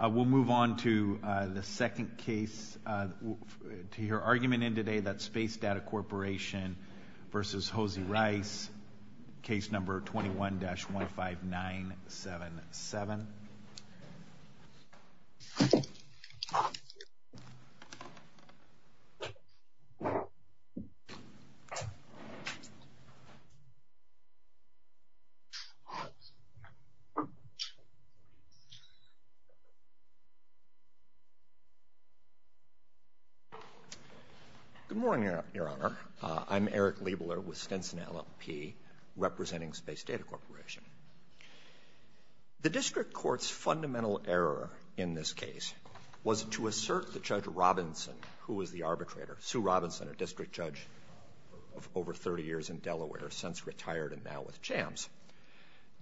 We'll move on to the second case, to your argument in today that Space Data Corporation v. Hosie Rice, case number 21-15977. Eric Leibler, LLP Good morning, Your Honor. I'm Eric Leibler with Stinson LLP, representing Space Data Corporation. The District Court's fundamental error in this case was to assert that Judge Robinson, who was the arbitrator, Sue Robinson, a district judge of over 30 years in Delaware, since retired and now with JAMS,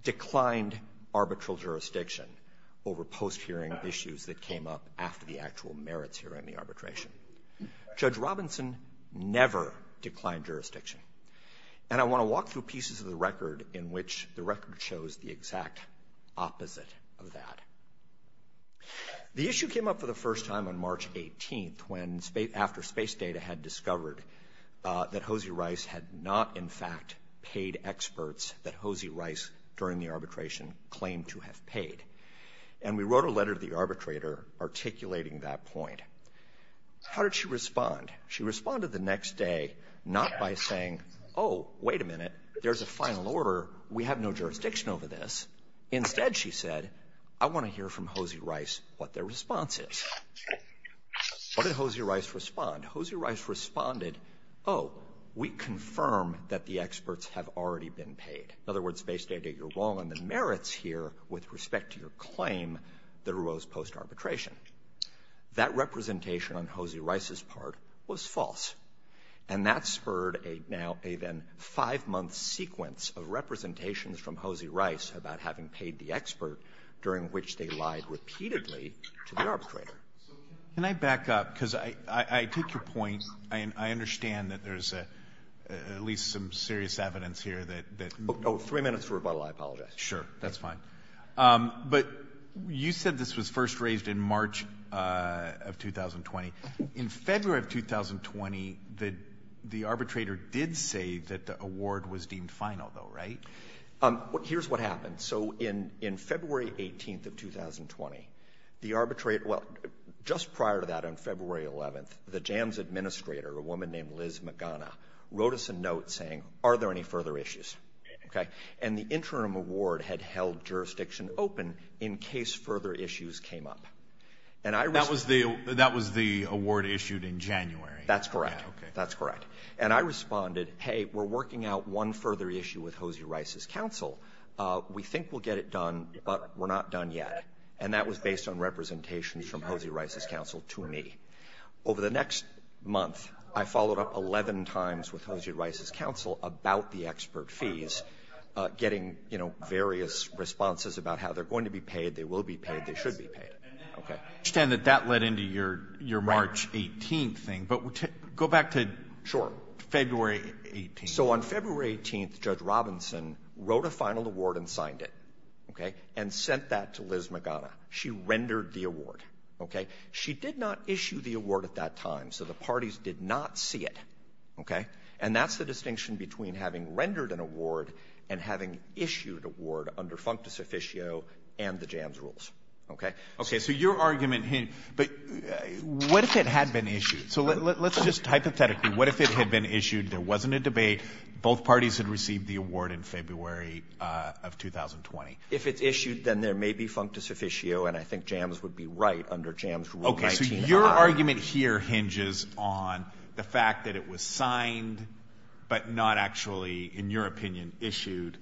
declined arbitral jurisdiction over post-hearing issues that came up after the actual merits hearing of the arbitration. Judge Robinson never declined jurisdiction. And I want to walk through pieces of the record in which the record shows the exact opposite of that. The issue came up for the first time on March 18th, when, after Space Data had discovered that Hosie Rice had not, in fact, paid experts that Hosie Rice, during the arbitration, claimed to have paid. And we wrote a letter to the arbitrator articulating that point. How did she respond? She responded the next day, not by saying, oh, wait a minute, there's a final order. We have no jurisdiction over this. Instead, she said, I want to hear from Hosie Rice what their response is. What did Hosie Rice respond? Hosie Rice responded, oh, we confirm that the experts have already been paid. In other words, Space Data, you're wrong on the merits here with respect to your claim that arose post-arbitration. That representation on Hosie Rice's part was false. And that spurred a then five-month sequence of representations from Hosie Rice about having paid the expert, during which they lied repeatedly to the arbitrator. Can I back up? Because I take your point. I understand that there's at least some serious evidence here that... Oh, three minutes for rebuttal, I apologize. Sure, that's fine. But you said this was first raised in March of 2020. In February of 2020, the arbitrator did say that the award was deemed final, though, right? Here's what happened. So in February 18th of 2020, the arbitrator... Well, just prior to that, on February 11th, the JAMS administrator, a woman named Liz Magana, wrote us a note saying, are there any further issues? And the interim award had held jurisdiction open in case further issues came up. And I... That was the award issued in January. That's correct. That's correct. And I responded, hey, we're working out one further issue with Hosie Rice's counsel. We think we'll get it done, but we're not done yet. And that was based on representations from Hosie Rice's counsel to me. Over the next month, I followed up 11 times with Hosie Rice's counsel about the expert fees, getting, you know, various responses about how they're going to be paid, they will be paid, they should be paid. Okay. I understand that that led into your March 18th thing, but go back to February 18th. Judge Robinson wrote a final award and signed it. Okay. And sent that to Liz Magana. She rendered the award. Okay. She did not issue the award at that time. So the parties did not see it. Okay. And that's the distinction between having rendered an award and having issued award under Functus Officio and the JAMS rules. Okay. Okay. So your argument here, but what if it had been issued? So let's just hypothetically, what if it had been issued, there wasn't a debate, both parties had received the award in February of 2020. If it's issued, then there may be Functus Officio. And I think JAMS would be right under JAMS rule 19. Okay. So your argument here hinges on the fact that it was signed, but not actually, in your opinion, issued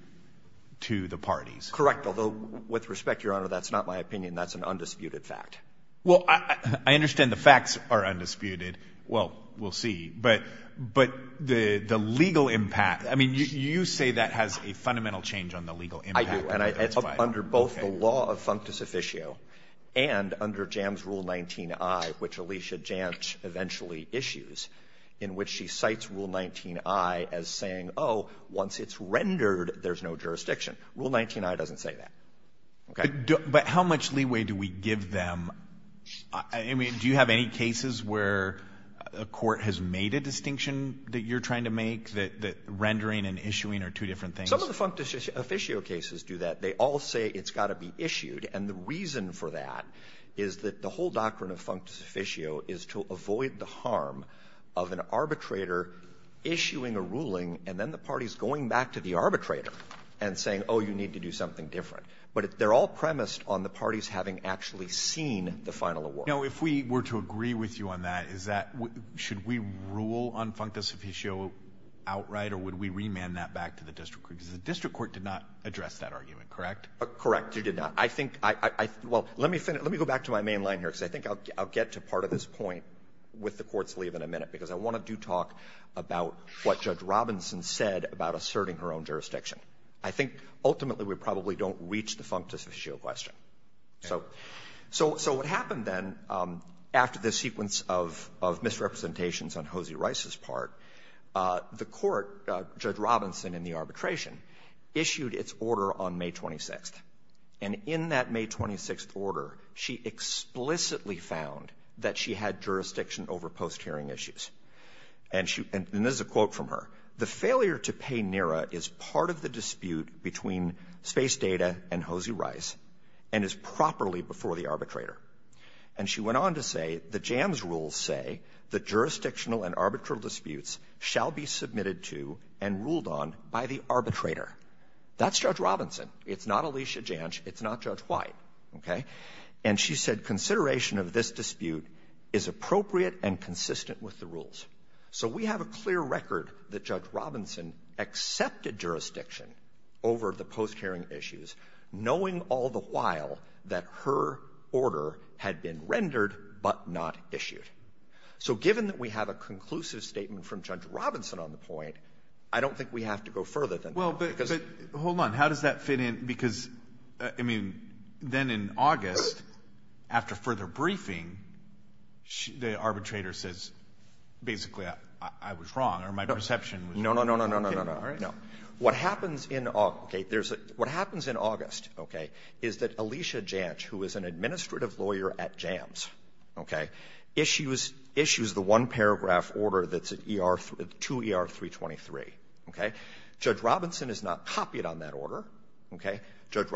to the parties. Correct. Although with respect, Your Honor, that's not my opinion. That's an undisputed fact. Well, I understand the facts are undisputed. Well, we'll see. But the legal impact, I mean, you say that has a fundamental change on the legal impact. I do. And it's under both the law of Functus Officio and under JAMS rule 19-I, which Alicia Jantz eventually issues, in which she cites rule 19-I as saying, oh, once it's rendered, there's no jurisdiction. Rule 19-I doesn't say that. But how much leeway do we give them? I mean, do you have any cases where a court has made a distinction that you're trying to make, that rendering and issuing are two different things? Some of the Functus Officio cases do that. They all say it's got to be issued. And the reason for that is that the whole doctrine of Functus Officio is to avoid the harm of an arbitrator issuing a ruling, and then the party's going back to the arbitrator and saying, oh, you need to do something different. But they're all premised on the parties having actually seen the final award. Now, if we were to agree with you on that, is that we — should we rule on Functus Officio outright, or would we remand that back to the district court? Because the district court did not address that argument, correct? Correct. It did not. I think — well, let me go back to my main line here, because I think I'll get to part of this point with the Court's leave in a minute, because I want to do talk about what Judge Robinson said about asserting her own jurisdiction. I think ultimately we probably don't reach the Functus Officio question. So what happened then, after this sequence of misrepresentations on Hosea Rice's part, the Court, Judge Robinson in the arbitration, issued its order on May 26th. And in that May 26th order, she explicitly found that she had jurisdiction over post-hearing issues. And this is a quote from her. The failure to pay NERA is part of the dispute between Space Data and Hosea Rice and is properly before the arbitrator. And she went on to say the JAMS rules say that jurisdictional and arbitral disputes shall be submitted to and ruled on by the arbitrator. That's Judge Robinson. It's not Alicia Jansh. It's not Judge White. Okay? And she said consideration of this dispute is appropriate and consistent with the rules. So we have a clear record that Judge Robinson accepted jurisdiction over the post-hearing issues, knowing all the while that her order had been rendered but not issued. So given that we have a conclusive statement from Judge Robinson on the point, I don't think we have to go further than that. Well, but hold on. How does that fit in? Because, I mean, then in August, after further briefing, the arbitrator says, basically, I was wrong or my perception was wrong. No, no, no, no, no, no, no. What happens in August, okay, is that Alicia Jansh, who is an administrative lawyer at JAMS, okay, issues the one-paragraph order that's at 2ER-323, okay? Judge Robinson has not copied on that order, okay? There's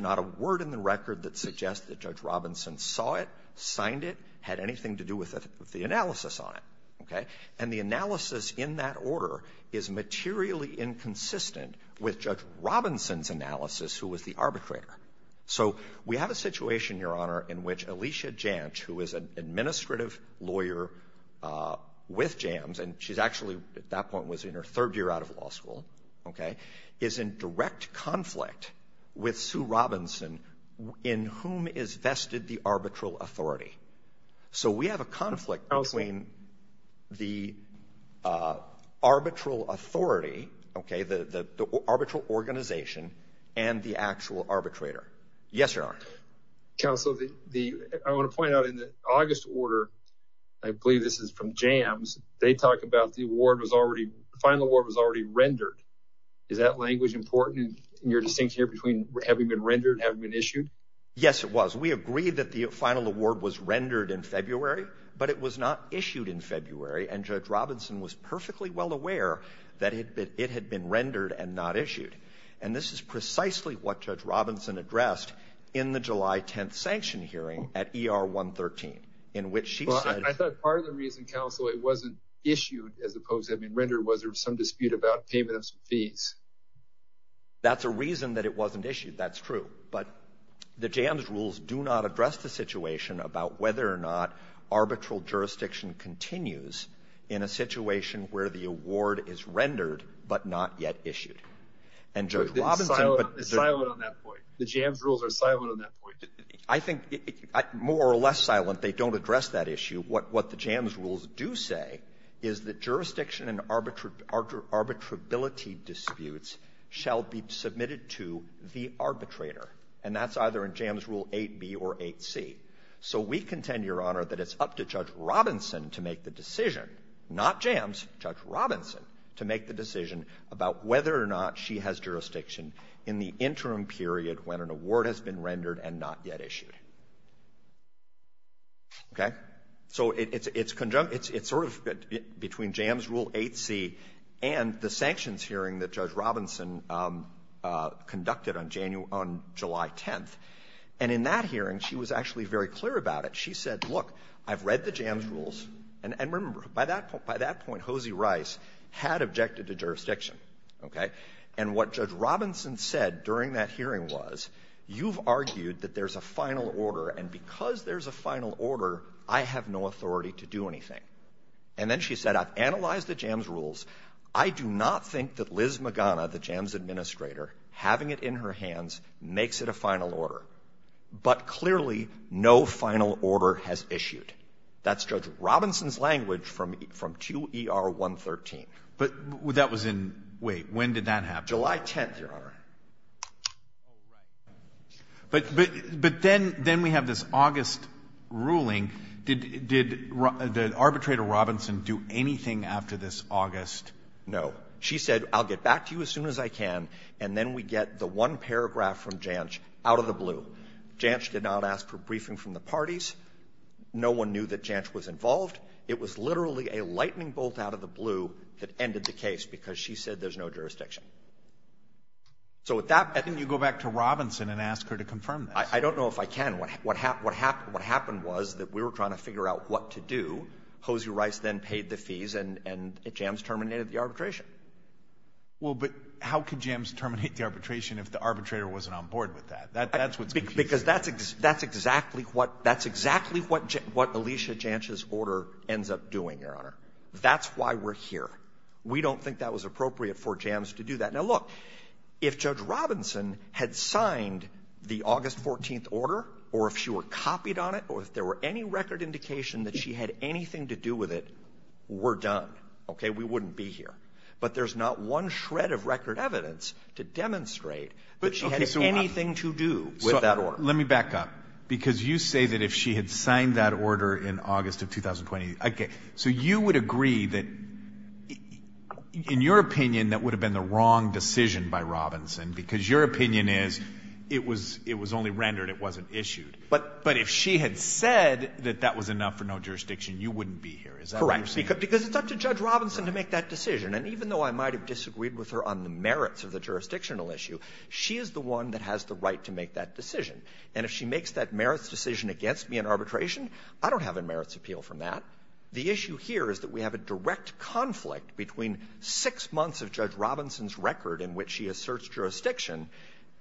not a word in the record that suggests that Judge Robinson saw it, signed it, had anything to do with the analysis on it, okay? And the analysis in that order is materially inconsistent with Judge Robinson's analysis, who was the arbitrator. So we have a situation, Your Honor, in which Alicia Jansh, who is an administrative lawyer with JAMS, and she's actually, at that point, was in her third year out of law school, okay, is in direct conflict with Sue Robinson, in whom is vested the arbitral authority. So we have a conflict between the arbitral authority, okay, the arbitral organization, and the actual arbitrator. Yes, Your Honor. Counsel, I want to point out, in the August order, I believe this is from JAMS, they talk about the award was already, the final award was already rendered. Is that language important in your distinction here between having been rendered and having been issued? Yes, it was. We agreed that the final award was rendered in February, but it was not issued in February, and Judge Robinson was perfectly well aware that it had been rendered and not issued. And this is precisely what Judge Robinson addressed in the July 10th sanction hearing at ER-113, in which she said... Well, I thought part of the reason, Counsel, it wasn't issued as opposed to having been rendered was there was some dispute about payment of some fees. That's a reason that it wasn't issued, that's true. But the JAMS rules do not address the situation about whether or not arbitral jurisdiction continues in a situation where the award is rendered but not yet issued. And Judge Robinson... It's silent on that point. The JAMS rules are silent on that point. I think more or less silent, they don't address that issue. What the JAMS rules do say is that jurisdiction and arbitrability disputes shall be submitted to the arbitrator, and that's either in JAMS Rule 8b or 8c. So we contend, Your Honor, that it's up to Judge Robinson to make the decision, not JAMS, Judge Robinson, to make the decision about whether or not she has jurisdiction in the interim period when an award has been rendered and not yet issued. Okay? So it's sort of between JAMS Rule 8c and the sanctions hearing that Judge Robinson conducted on July 10th. And in that hearing, she was actually very clear about it. She said, look, I've read the JAMS rules. And remember, by that point, Hosie Rice had objected to jurisdiction. Okay? And what Judge Robinson said during that hearing was, you've argued that there's a final order, and because there's a final order, I have no authority to do anything. And then she said, I've analyzed the JAMS rules. I do not think that Liz Magana, the JAMS administrator, having it in her hands, makes it a final order. But clearly, no final order has issued. That's Judge Robinson's language from II-ER-113. But that was in — wait, when did that happen? July 10th, Your Honor. But then we have this August ruling. Did Arbitrator Robinson do anything after this August? No. She said, I'll get back to you as soon as I can, and then we get the one paragraph from Janch out of the blue. Janch did not ask for briefing from the parties. No one knew that Janch was involved. It was literally a lightning bolt out of the blue that ended the case, because she said there's no jurisdiction. So at that — Then you go back to Robinson and ask her to confirm this. I don't know if I can. What happened was that we were trying to figure out what to do. Hosea Rice then paid the fees, and JAMS terminated the arbitration. Well, but how could JAMS terminate the arbitration if the arbitrator wasn't on board with that? That's what's confusing. Because that's exactly what — that's exactly what Alicia Janch's order ends up doing, Your Honor. That's why we're here. We don't think that was appropriate for her to do that. Now, look, if Judge Robinson had signed the August 14th order, or if she were copied on it, or if there were any record indication that she had anything to do with it, we're done, okay? We wouldn't be here. But there's not one shred of record evidence to demonstrate that she had anything to do with that order. Let me back up, because you say that if she had signed that order in August of 2020 — okay, so you would agree that, in your opinion, that would have been the wrong decision by Robinson, because your opinion is it was — it was only rendered, it wasn't issued. But — But if she had said that that was enough for no jurisdiction, you wouldn't be here. Is that what you're saying? Correct. Because it's up to Judge Robinson to make that decision. And even though I might have disagreed with her on the merits of the jurisdictional issue, she is the one that has the right to make that decision. And if she makes that merits decision against me in arbitration, I don't have a merits appeal from that. The issue here is that we have a direct conflict between six months of Judge Robinson's record in which she asserts jurisdiction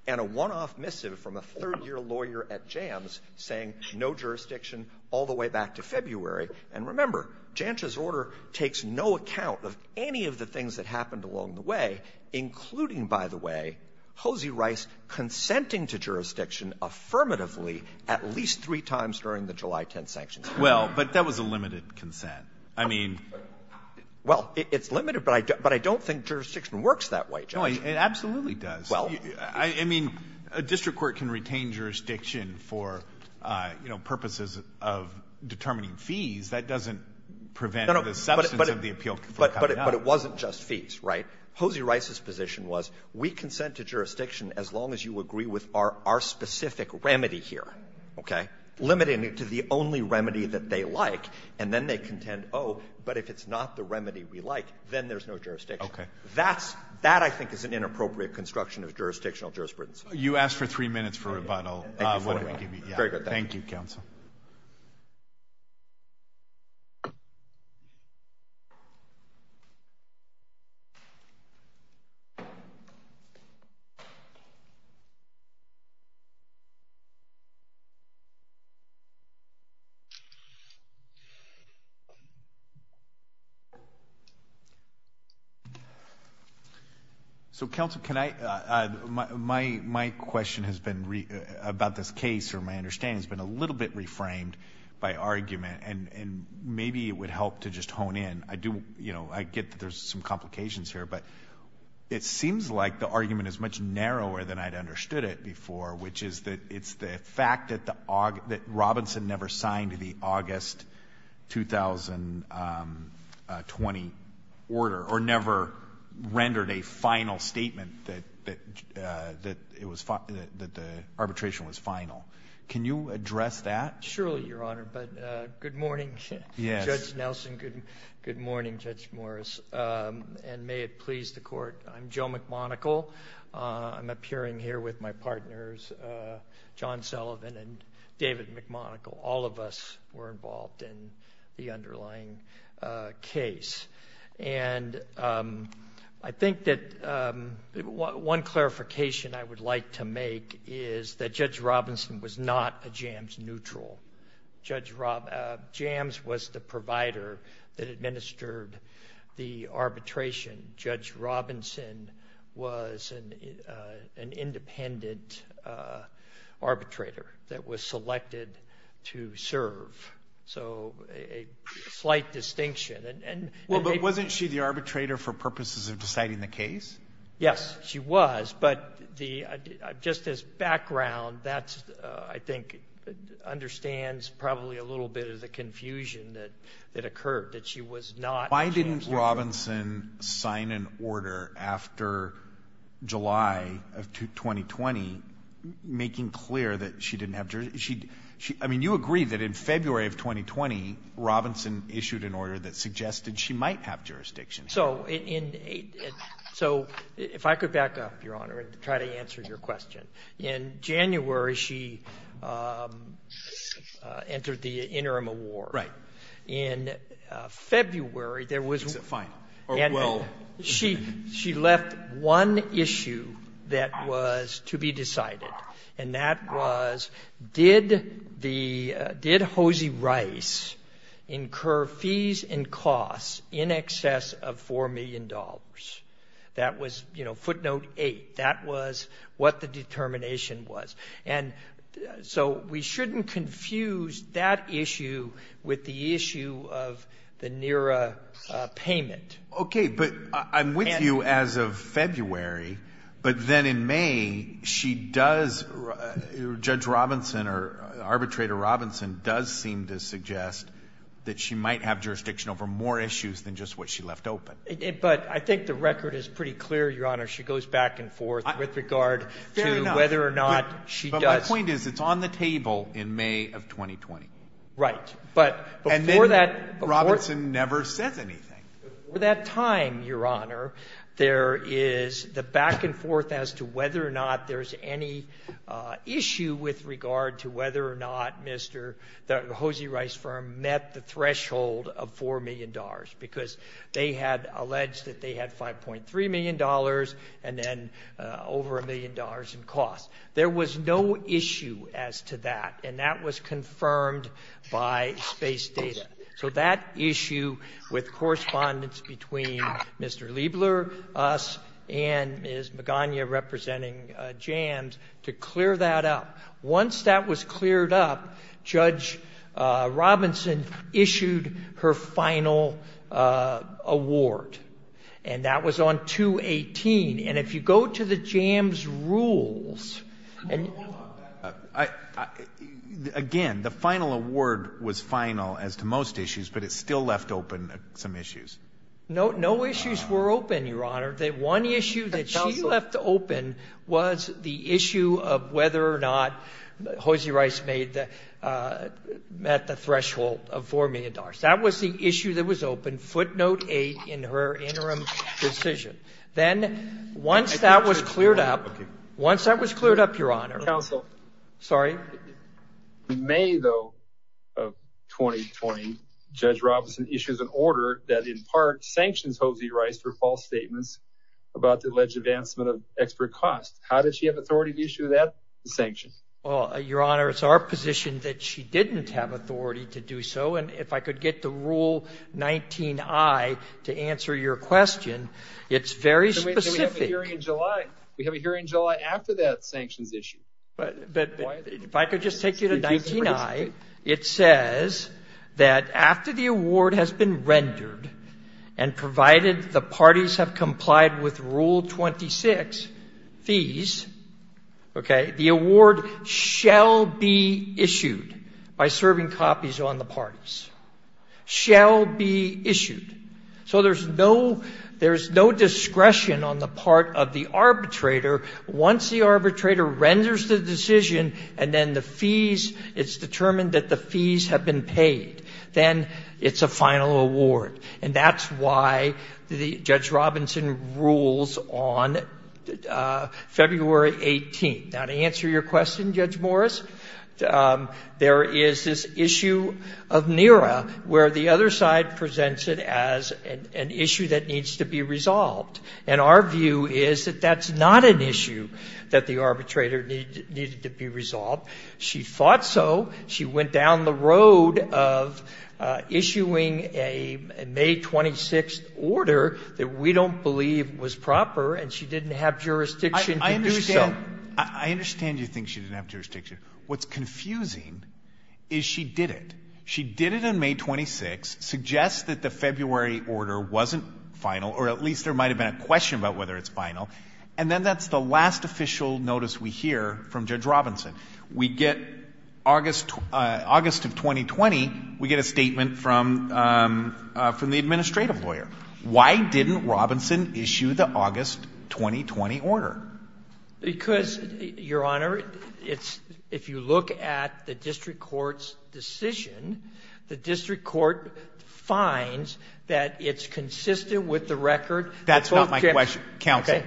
and a one-off missive from a third-year lawyer at JAMS saying no jurisdiction all the way back to February. And remember, Jancha's order takes no account of any of the things that happened along the way, including, by the way, Hosie Rice consenting to jurisdiction affirmatively at least three times during the July 10th sanctions. Well, but that was a limited consent. I mean — Well, it's limited, but I don't think jurisdiction works that way, Judge. No, it absolutely does. Well — I mean, a district court can retain jurisdiction for, you know, purposes of determining fees. That doesn't prevent the substance of the appeal from coming out. But it wasn't just fees, right? Hosie Rice's position was we consent to jurisdiction as long as you agree with our specific remedy here, okay, limiting it to the only If it's not the remedy we like, then there's no jurisdiction. Okay. That's — that, I think, is an inappropriate construction of jurisdictional jurisprudence. You asked for three minutes for a rebuttal. Thank you for waiting. Very good. Thank you, counsel. So, counsel, can I — my question has been about this case, or my understanding, has been a little bit reframed by argument, and maybe it would help to just hone in. I do — you know, I get that there's some complications here, but it seems like the argument is much narrower than I'd understood it before, which is that it's the fact that Robinson never signed the August 2020 order, or never rendered a final statement that it was — that the arbitration was final. Can you address that? Surely, Your Honor. But good morning, Judge Nelson. Yes. Good morning, Judge Morris. And may it please the Court, I'm Joe McMonagle. I'm appearing here with my partners, John Sullivan and David McMonagle. All of us were involved in the underlying case. And I think that one clarification I would like to make is that Judge Robinson was not a JAMS neutral. Judge — JAMS was the provider that administered the arbitration. Judge Robinson was an independent arbitrator that was selected to serve. So, a slight distinction. And — Well, but wasn't she the arbitrator for purposes of deciding the case? Yes, she was. But the — just as background, that, I think, understands probably a little bit of the confusion that occurred, that she was not — Why didn't Robinson sign an order after July of 2020, making clear that she didn't have — I mean, you agreed that in February of 2020, Robinson issued an order that suggested she might have jurisdiction. So, in — so, if I could back up, Your Honor, and try to answer your question. In January, she entered the interim award. Right. In February, there was — Is it final? Or, well — She left one issue that was to be decided, and that was, did the — did Hosie Rice incur fees and costs in excess of $4 million? That was, you know, footnote 8. That was what the determination was. And so, we shouldn't confuse that issue with the issue of the NERA payment. Okay. But I'm with you as of February. But then in May, she does — Judge Robinson or Arbitrator Robinson does seem to suggest that she might have jurisdiction over more issues than just what she left open. But I think the record is pretty clear, Your Honor. She goes back and forth with regard to whether or not she does — Fair enough. But my point is, it's on the table in May of 2020. Right. But before that — And then Robinson never says anything. Before that time, Your Honor, there is the back and forth as to whether or not there's any issue with regard to whether or not Mr. — the Hosie Rice firm met the threshold of $4 million because they had alleged that they had $5.3 million and then over a million dollars in costs. There was no issue as to that. And that was confirmed by space data. So that issue with correspondence between Mr. Liebler, us, and Ms. Magana representing JAMS to clear that up. Once that was cleared up, Judge Robinson issued her final award. And that was on 2-18. And if you go to the JAMS rules — Hold on. Again, the final award was final as to most issues, but it still left open some issues. No issues were open, Your Honor. The one issue that she left open was the issue of whether or not Hosie Rice met the threshold of $4 million. That was the issue that was open, footnote 8 in her interim decision. Then once that was cleared up — Once that was cleared up, Your Honor — Counsel. Sorry? In May, though, of 2020, Judge Robinson issues an order that in part sanctions Hosie Rice for false statements about the alleged advancement of extra costs. How did she have authority to issue that sanction? Well, Your Honor, it's our position that she didn't have authority to do so. And if I could get the Rule 19i to answer your question, it's very specific. Then we have a hearing in July. We have a hearing in July after that sanctions issue. But if I could just take you to 19i, it says that after the award has been rendered and provided the parties have complied with Rule 26, fees, okay, the award shall be issued by serving copies on the parties. Shall be issued. So there's no — there's no discretion on the part of the arbitrator. Once the arbitrator renders the decision and then the fees — it's determined that the fees have been paid, then it's a final award. And that's why the — Judge Robinson rules on February 18. Now, to answer your question, Judge Morris, there is this issue of NERA where the other side presents it as an issue that needs to be resolved. And our view is that that's not an issue that the arbitrator needed to be resolved. She thought so. She went down the road of issuing a May 26 order that we don't believe was proper, and she didn't have jurisdiction to do so. I understand you think she didn't have jurisdiction. What's confusing is she did it. She did it on May 26, suggests that the February order wasn't final, or at least there might have been a question about whether it's final. And then that's the last official notice we hear from Judge Robinson. We get — August of 2020, we get a statement from the administrative lawyer. Why didn't Robinson issue the August 2020 order? Because, Your Honor, it's — if you look at the district court's decision, the district court finds that it's consistent with the record — That's not my question, Counsel.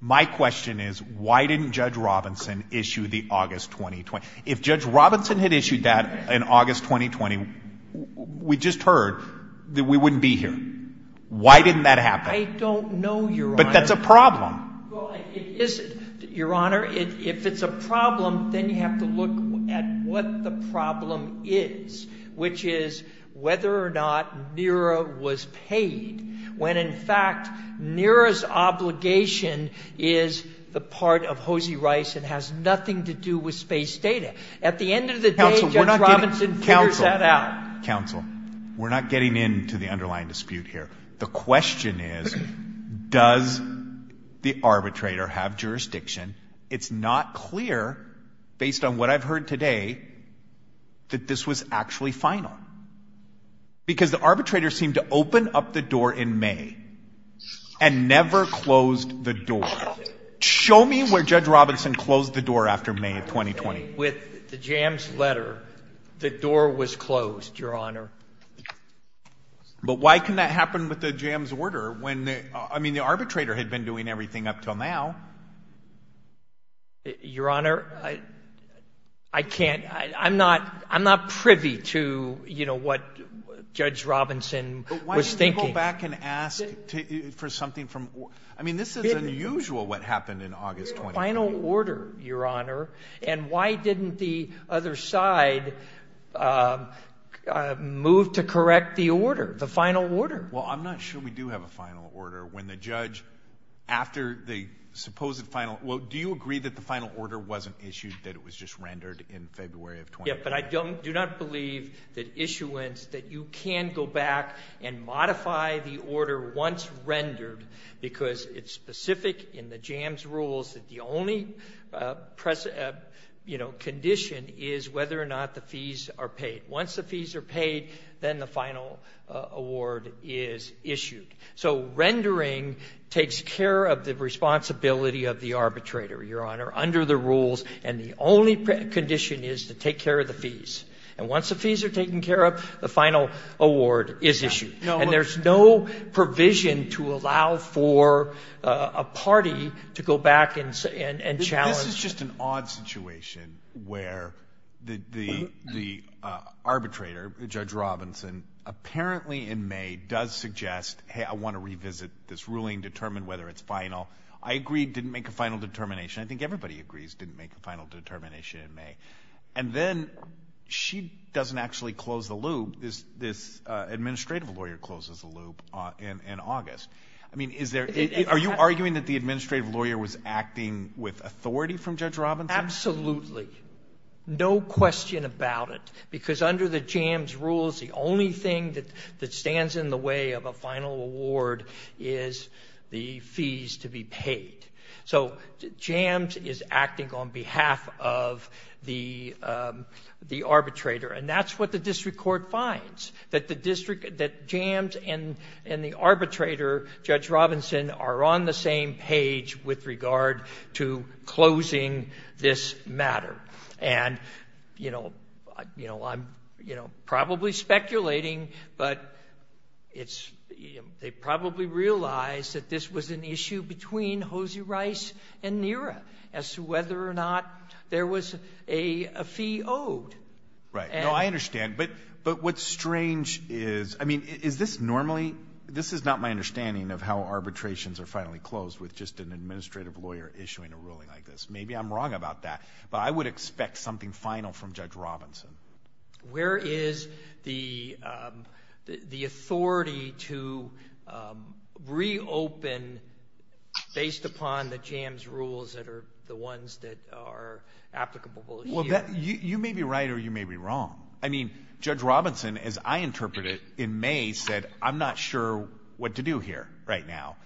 My question is, why didn't Judge Robinson issue the August 2020? If Judge Robinson had issued that in August 2020, we just heard that we wouldn't be here. Why didn't that happen? I don't know, Your Honor. But that's a problem. Well, it isn't, Your Honor. If it's a problem, then you have to look at what the NERA's obligation is the part of Hosie Rice and has nothing to do with space data. At the end of the day, Judge Robinson figures that out. Counsel, we're not getting into the underlying dispute here. The question is, does the arbitrator have jurisdiction? It's not clear, based on what I've heard today, that this was actually final. Because the arbitrator seemed to open up the door in May. And never closed the door. Show me where Judge Robinson closed the door after May of 2020. With the JAMS letter, the door was closed, Your Honor. But why can that happen with the JAMS order when — I mean, the arbitrator had been doing everything up till now. Your Honor, I can't — I'm not privy to, you know, what Judge Robinson was thinking. Go back and ask for something from — I mean, this is unusual, what happened in August 2020. Final order, Your Honor. And why didn't the other side move to correct the order, the final order? Well, I'm not sure we do have a final order when the judge — after the supposed final — well, do you agree that the final order wasn't issued, that it was just rendered in February of 2020? But I do not believe that issuance — that you can go back and modify the order once rendered, because it's specific in the JAMS rules that the only, you know, condition is whether or not the fees are paid. Once the fees are paid, then the final award is issued. So rendering takes care of the responsibility of the arbitrator, Your Honor, under the rules. And the only condition is to take care of the fees. And once the fees are taken care of, the final award is issued. And there's no provision to allow for a party to go back and challenge — This is just an odd situation where the arbitrator, Judge Robinson, apparently in May, does suggest, hey, I want to revisit this ruling, determine whether it's final. I agree it didn't make a final determination. I think everybody agrees it didn't make a final determination in May. And then she doesn't actually close the loop. This administrative lawyer closes the loop in August. I mean, is there — are you arguing that the administrative lawyer was acting with authority from Judge Robinson? Absolutely. No question about it. Because under the JAMS rules, the only thing that stands in the way of a final award is the fees to be paid. So JAMS is acting on behalf of the arbitrator. And that's what the district court finds, that the district — that JAMS and the arbitrator, Judge Robinson, are on the same page with regard to closing this matter. And, you know, I'm probably speculating, but it's — they probably realized that this was an issue between Hosie Rice and Nira as to whether or not there was a fee owed. Right. No, I understand. But what's strange is — I mean, is this normally — this is not my understanding of how arbitrations are finally closed with just an administrative lawyer issuing a ruling like this. Maybe I'm wrong about that. But I would expect something final from Judge Robinson. Where is the authority to reopen based upon the JAMS rules that are the ones that are applicable here? Well, you may be right or you may be wrong. I mean, Judge Robinson, as I interpret it, in May said, I'm not sure what to do here right now.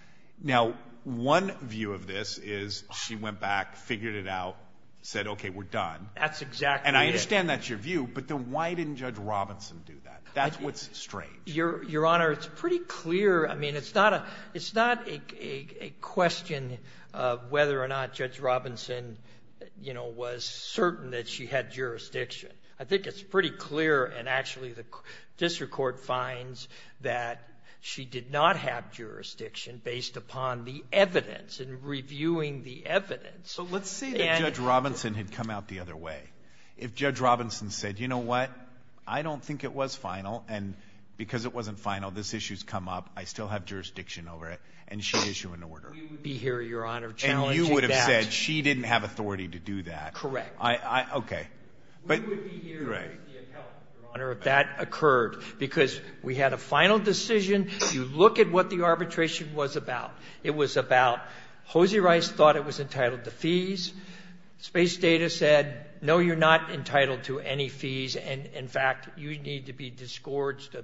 Now, one view of this is she went back, figured it out, said, OK, we're done. That's exactly it. And I understand that's your view. But then why didn't Judge Robinson do that? That's what's strange. Your Honor, it's pretty clear. I mean, it's not a question of whether or not Judge Robinson, you know, was certain that she had jurisdiction. I think it's pretty clear. And actually, the district court finds that she did not have jurisdiction based upon the evidence and reviewing the evidence. So let's say that Judge Robinson had come out the other way. If Judge Robinson said, you know what, I don't think it was final. And because it wasn't final, this issue has come up. I still have jurisdiction over it. And she issued an order. We would be here, Your Honor, challenging that. And you would have said she didn't have authority to do that. Correct. I — OK. We would be here to raise the account, Your Honor, if that occurred. Because we had a final decision. You look at what the arbitration was about. It was about — Hosea Rice thought it was entitled to fees. Space Data said, no, you're not entitled to any fees. And in fact, you need to be disgorged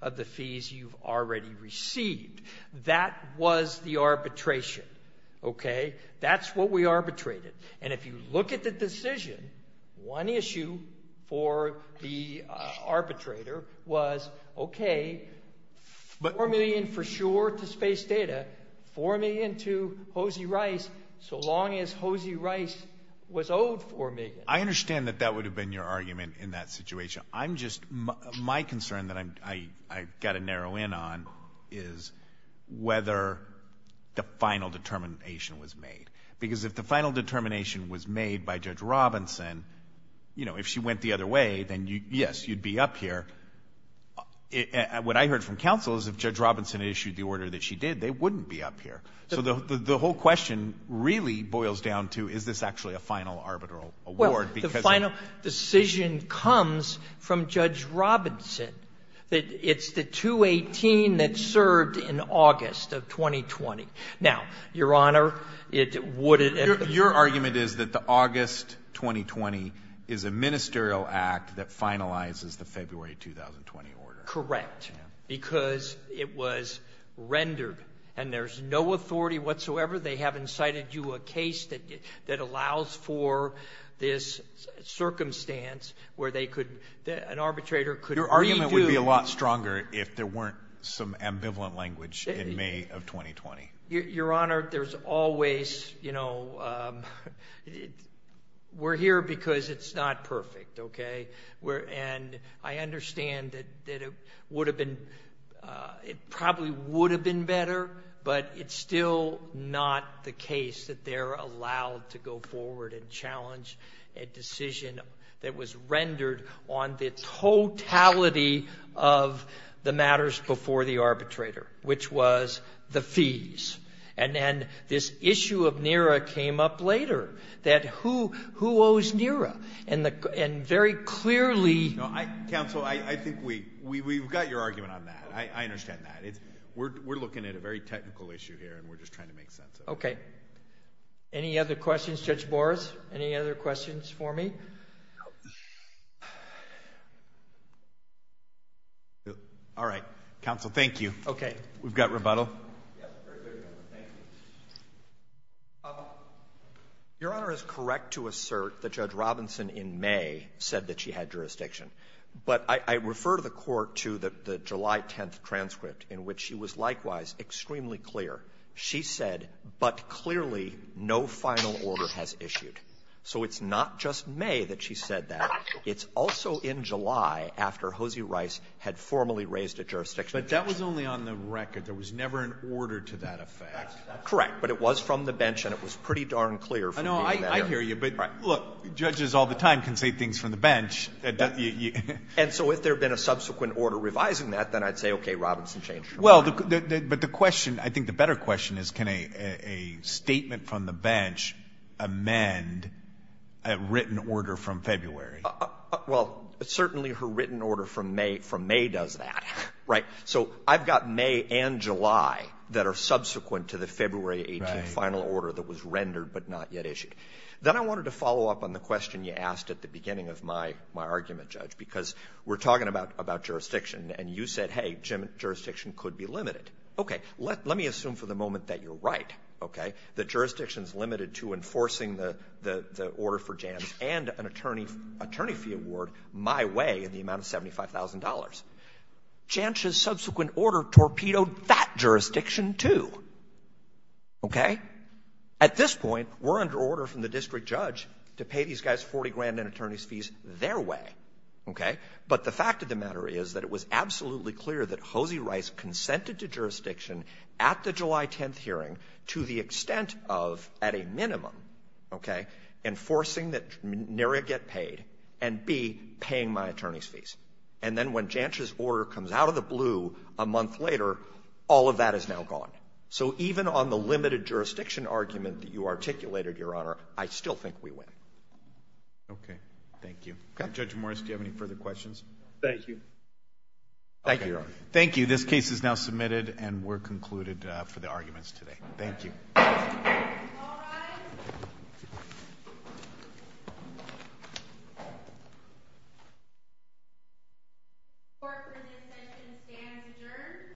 of the fees you've already received. That was the arbitration. OK? That's what we arbitrated. And if you look at the decision, one issue for the arbitrator was, OK, $4 million for sure to Space Data, $4 million to Hosea Rice, so long as Hosea Rice was owed $4 million. I understand that that would have been your argument in that situation. I'm just — my concern that I've got to narrow in on is whether the final determination was made. Because if the final determination was made by Judge Robinson, you know, if she went the other way, then, yes, you'd be up here. What I heard from counsel is if Judge Robinson issued the order that she did, they wouldn't be up here. So the whole question really boils down to, is this actually a final arbitral award? Well, the final decision comes from Judge Robinson. It's the 218 that served in August of 2020. Now, Your Honor, it would — Your argument is that the August 2020 is a ministerial act that finalizes the February 2020 order. Correct. Because it was rendered. And there's no authority whatsoever. They haven't cited you a case that allows for this circumstance where they could — an arbitrator could — Your argument would be a lot stronger if there weren't some ambivalent language in May of 2020. Your Honor, there's always, you know — we're here because it's not perfect, okay? And I understand that it would have been — it probably would have been better, but it's still not the case that they're allowed to go forward and challenge a decision that was rendered on the totality of the matters before the arbitrator, which was the fees. And then this issue of NERA came up later, that who owes NERA? And very clearly — No, counsel, I think we've got your argument on that. I understand that. We're looking at a very technical issue here, and we're just trying to make sense of it. Okay. Any other questions, Judge Morris? Any other questions for me? All right. Counsel, thank you. Okay. We've got rebuttal. Yes. Very good, Your Honor. Thank you. Your Honor is correct to assert that Judge Robinson in May said that she had jurisdiction. But I refer to the court to the July 10th transcript, in which she was likewise extremely clear. She said, but clearly no final order has issued. So it's not just May that she said that. It's also in July, after Hosie Rice had formally raised a jurisdiction. But that was only on the record. There was never an order to that effect. Correct. But it was from the bench, and it was pretty darn clear. I know. I hear you. But look, judges all the time can say things from the bench. And so if there had been a subsequent order revising that, then I'd say, okay, Robinson changed. Well, but the question — I think the better question is, can a statement from the bench amend a written order from February? Well, certainly her written order from May does that, right? So I've got May and July that are subsequent to the February 18th final order that was rendered but not yet issued. Then I wanted to follow up on the question you asked at the beginning of my argument, Judge, because we're talking about jurisdiction, and you said, hey, jurisdiction could be limited. Okay. Let me assume for the moment that you're right, okay, that jurisdiction is limited to enforcing the order for Jantz and an attorney fee award my way in the amount of $75,000. Jantz's subsequent order torpedoed that jurisdiction, too. Okay? At this point, we're under order from the district judge to pay these guys $40,000 in attorney's fees their way. Okay? But the fact of the matter is that it was absolutely clear that Hosie Rice consented to jurisdiction at the July 10th hearing to the extent of, at a minimum, okay, enforcing that NERIA get paid and, B, paying my attorney's fees. And then when Jantz's order comes out of the blue a month later, all of that is now gone. So even on the limited jurisdiction argument that you articulated, Your Honor, I still think we win. Okay. Thank you. Judge Morris, do you have any further questions? Thank you. Thank you, Your Honor. Thank you. This case is now submitted, and we're concluded for the arguments today. Thank you. All rise. Court for this session stands adjourned.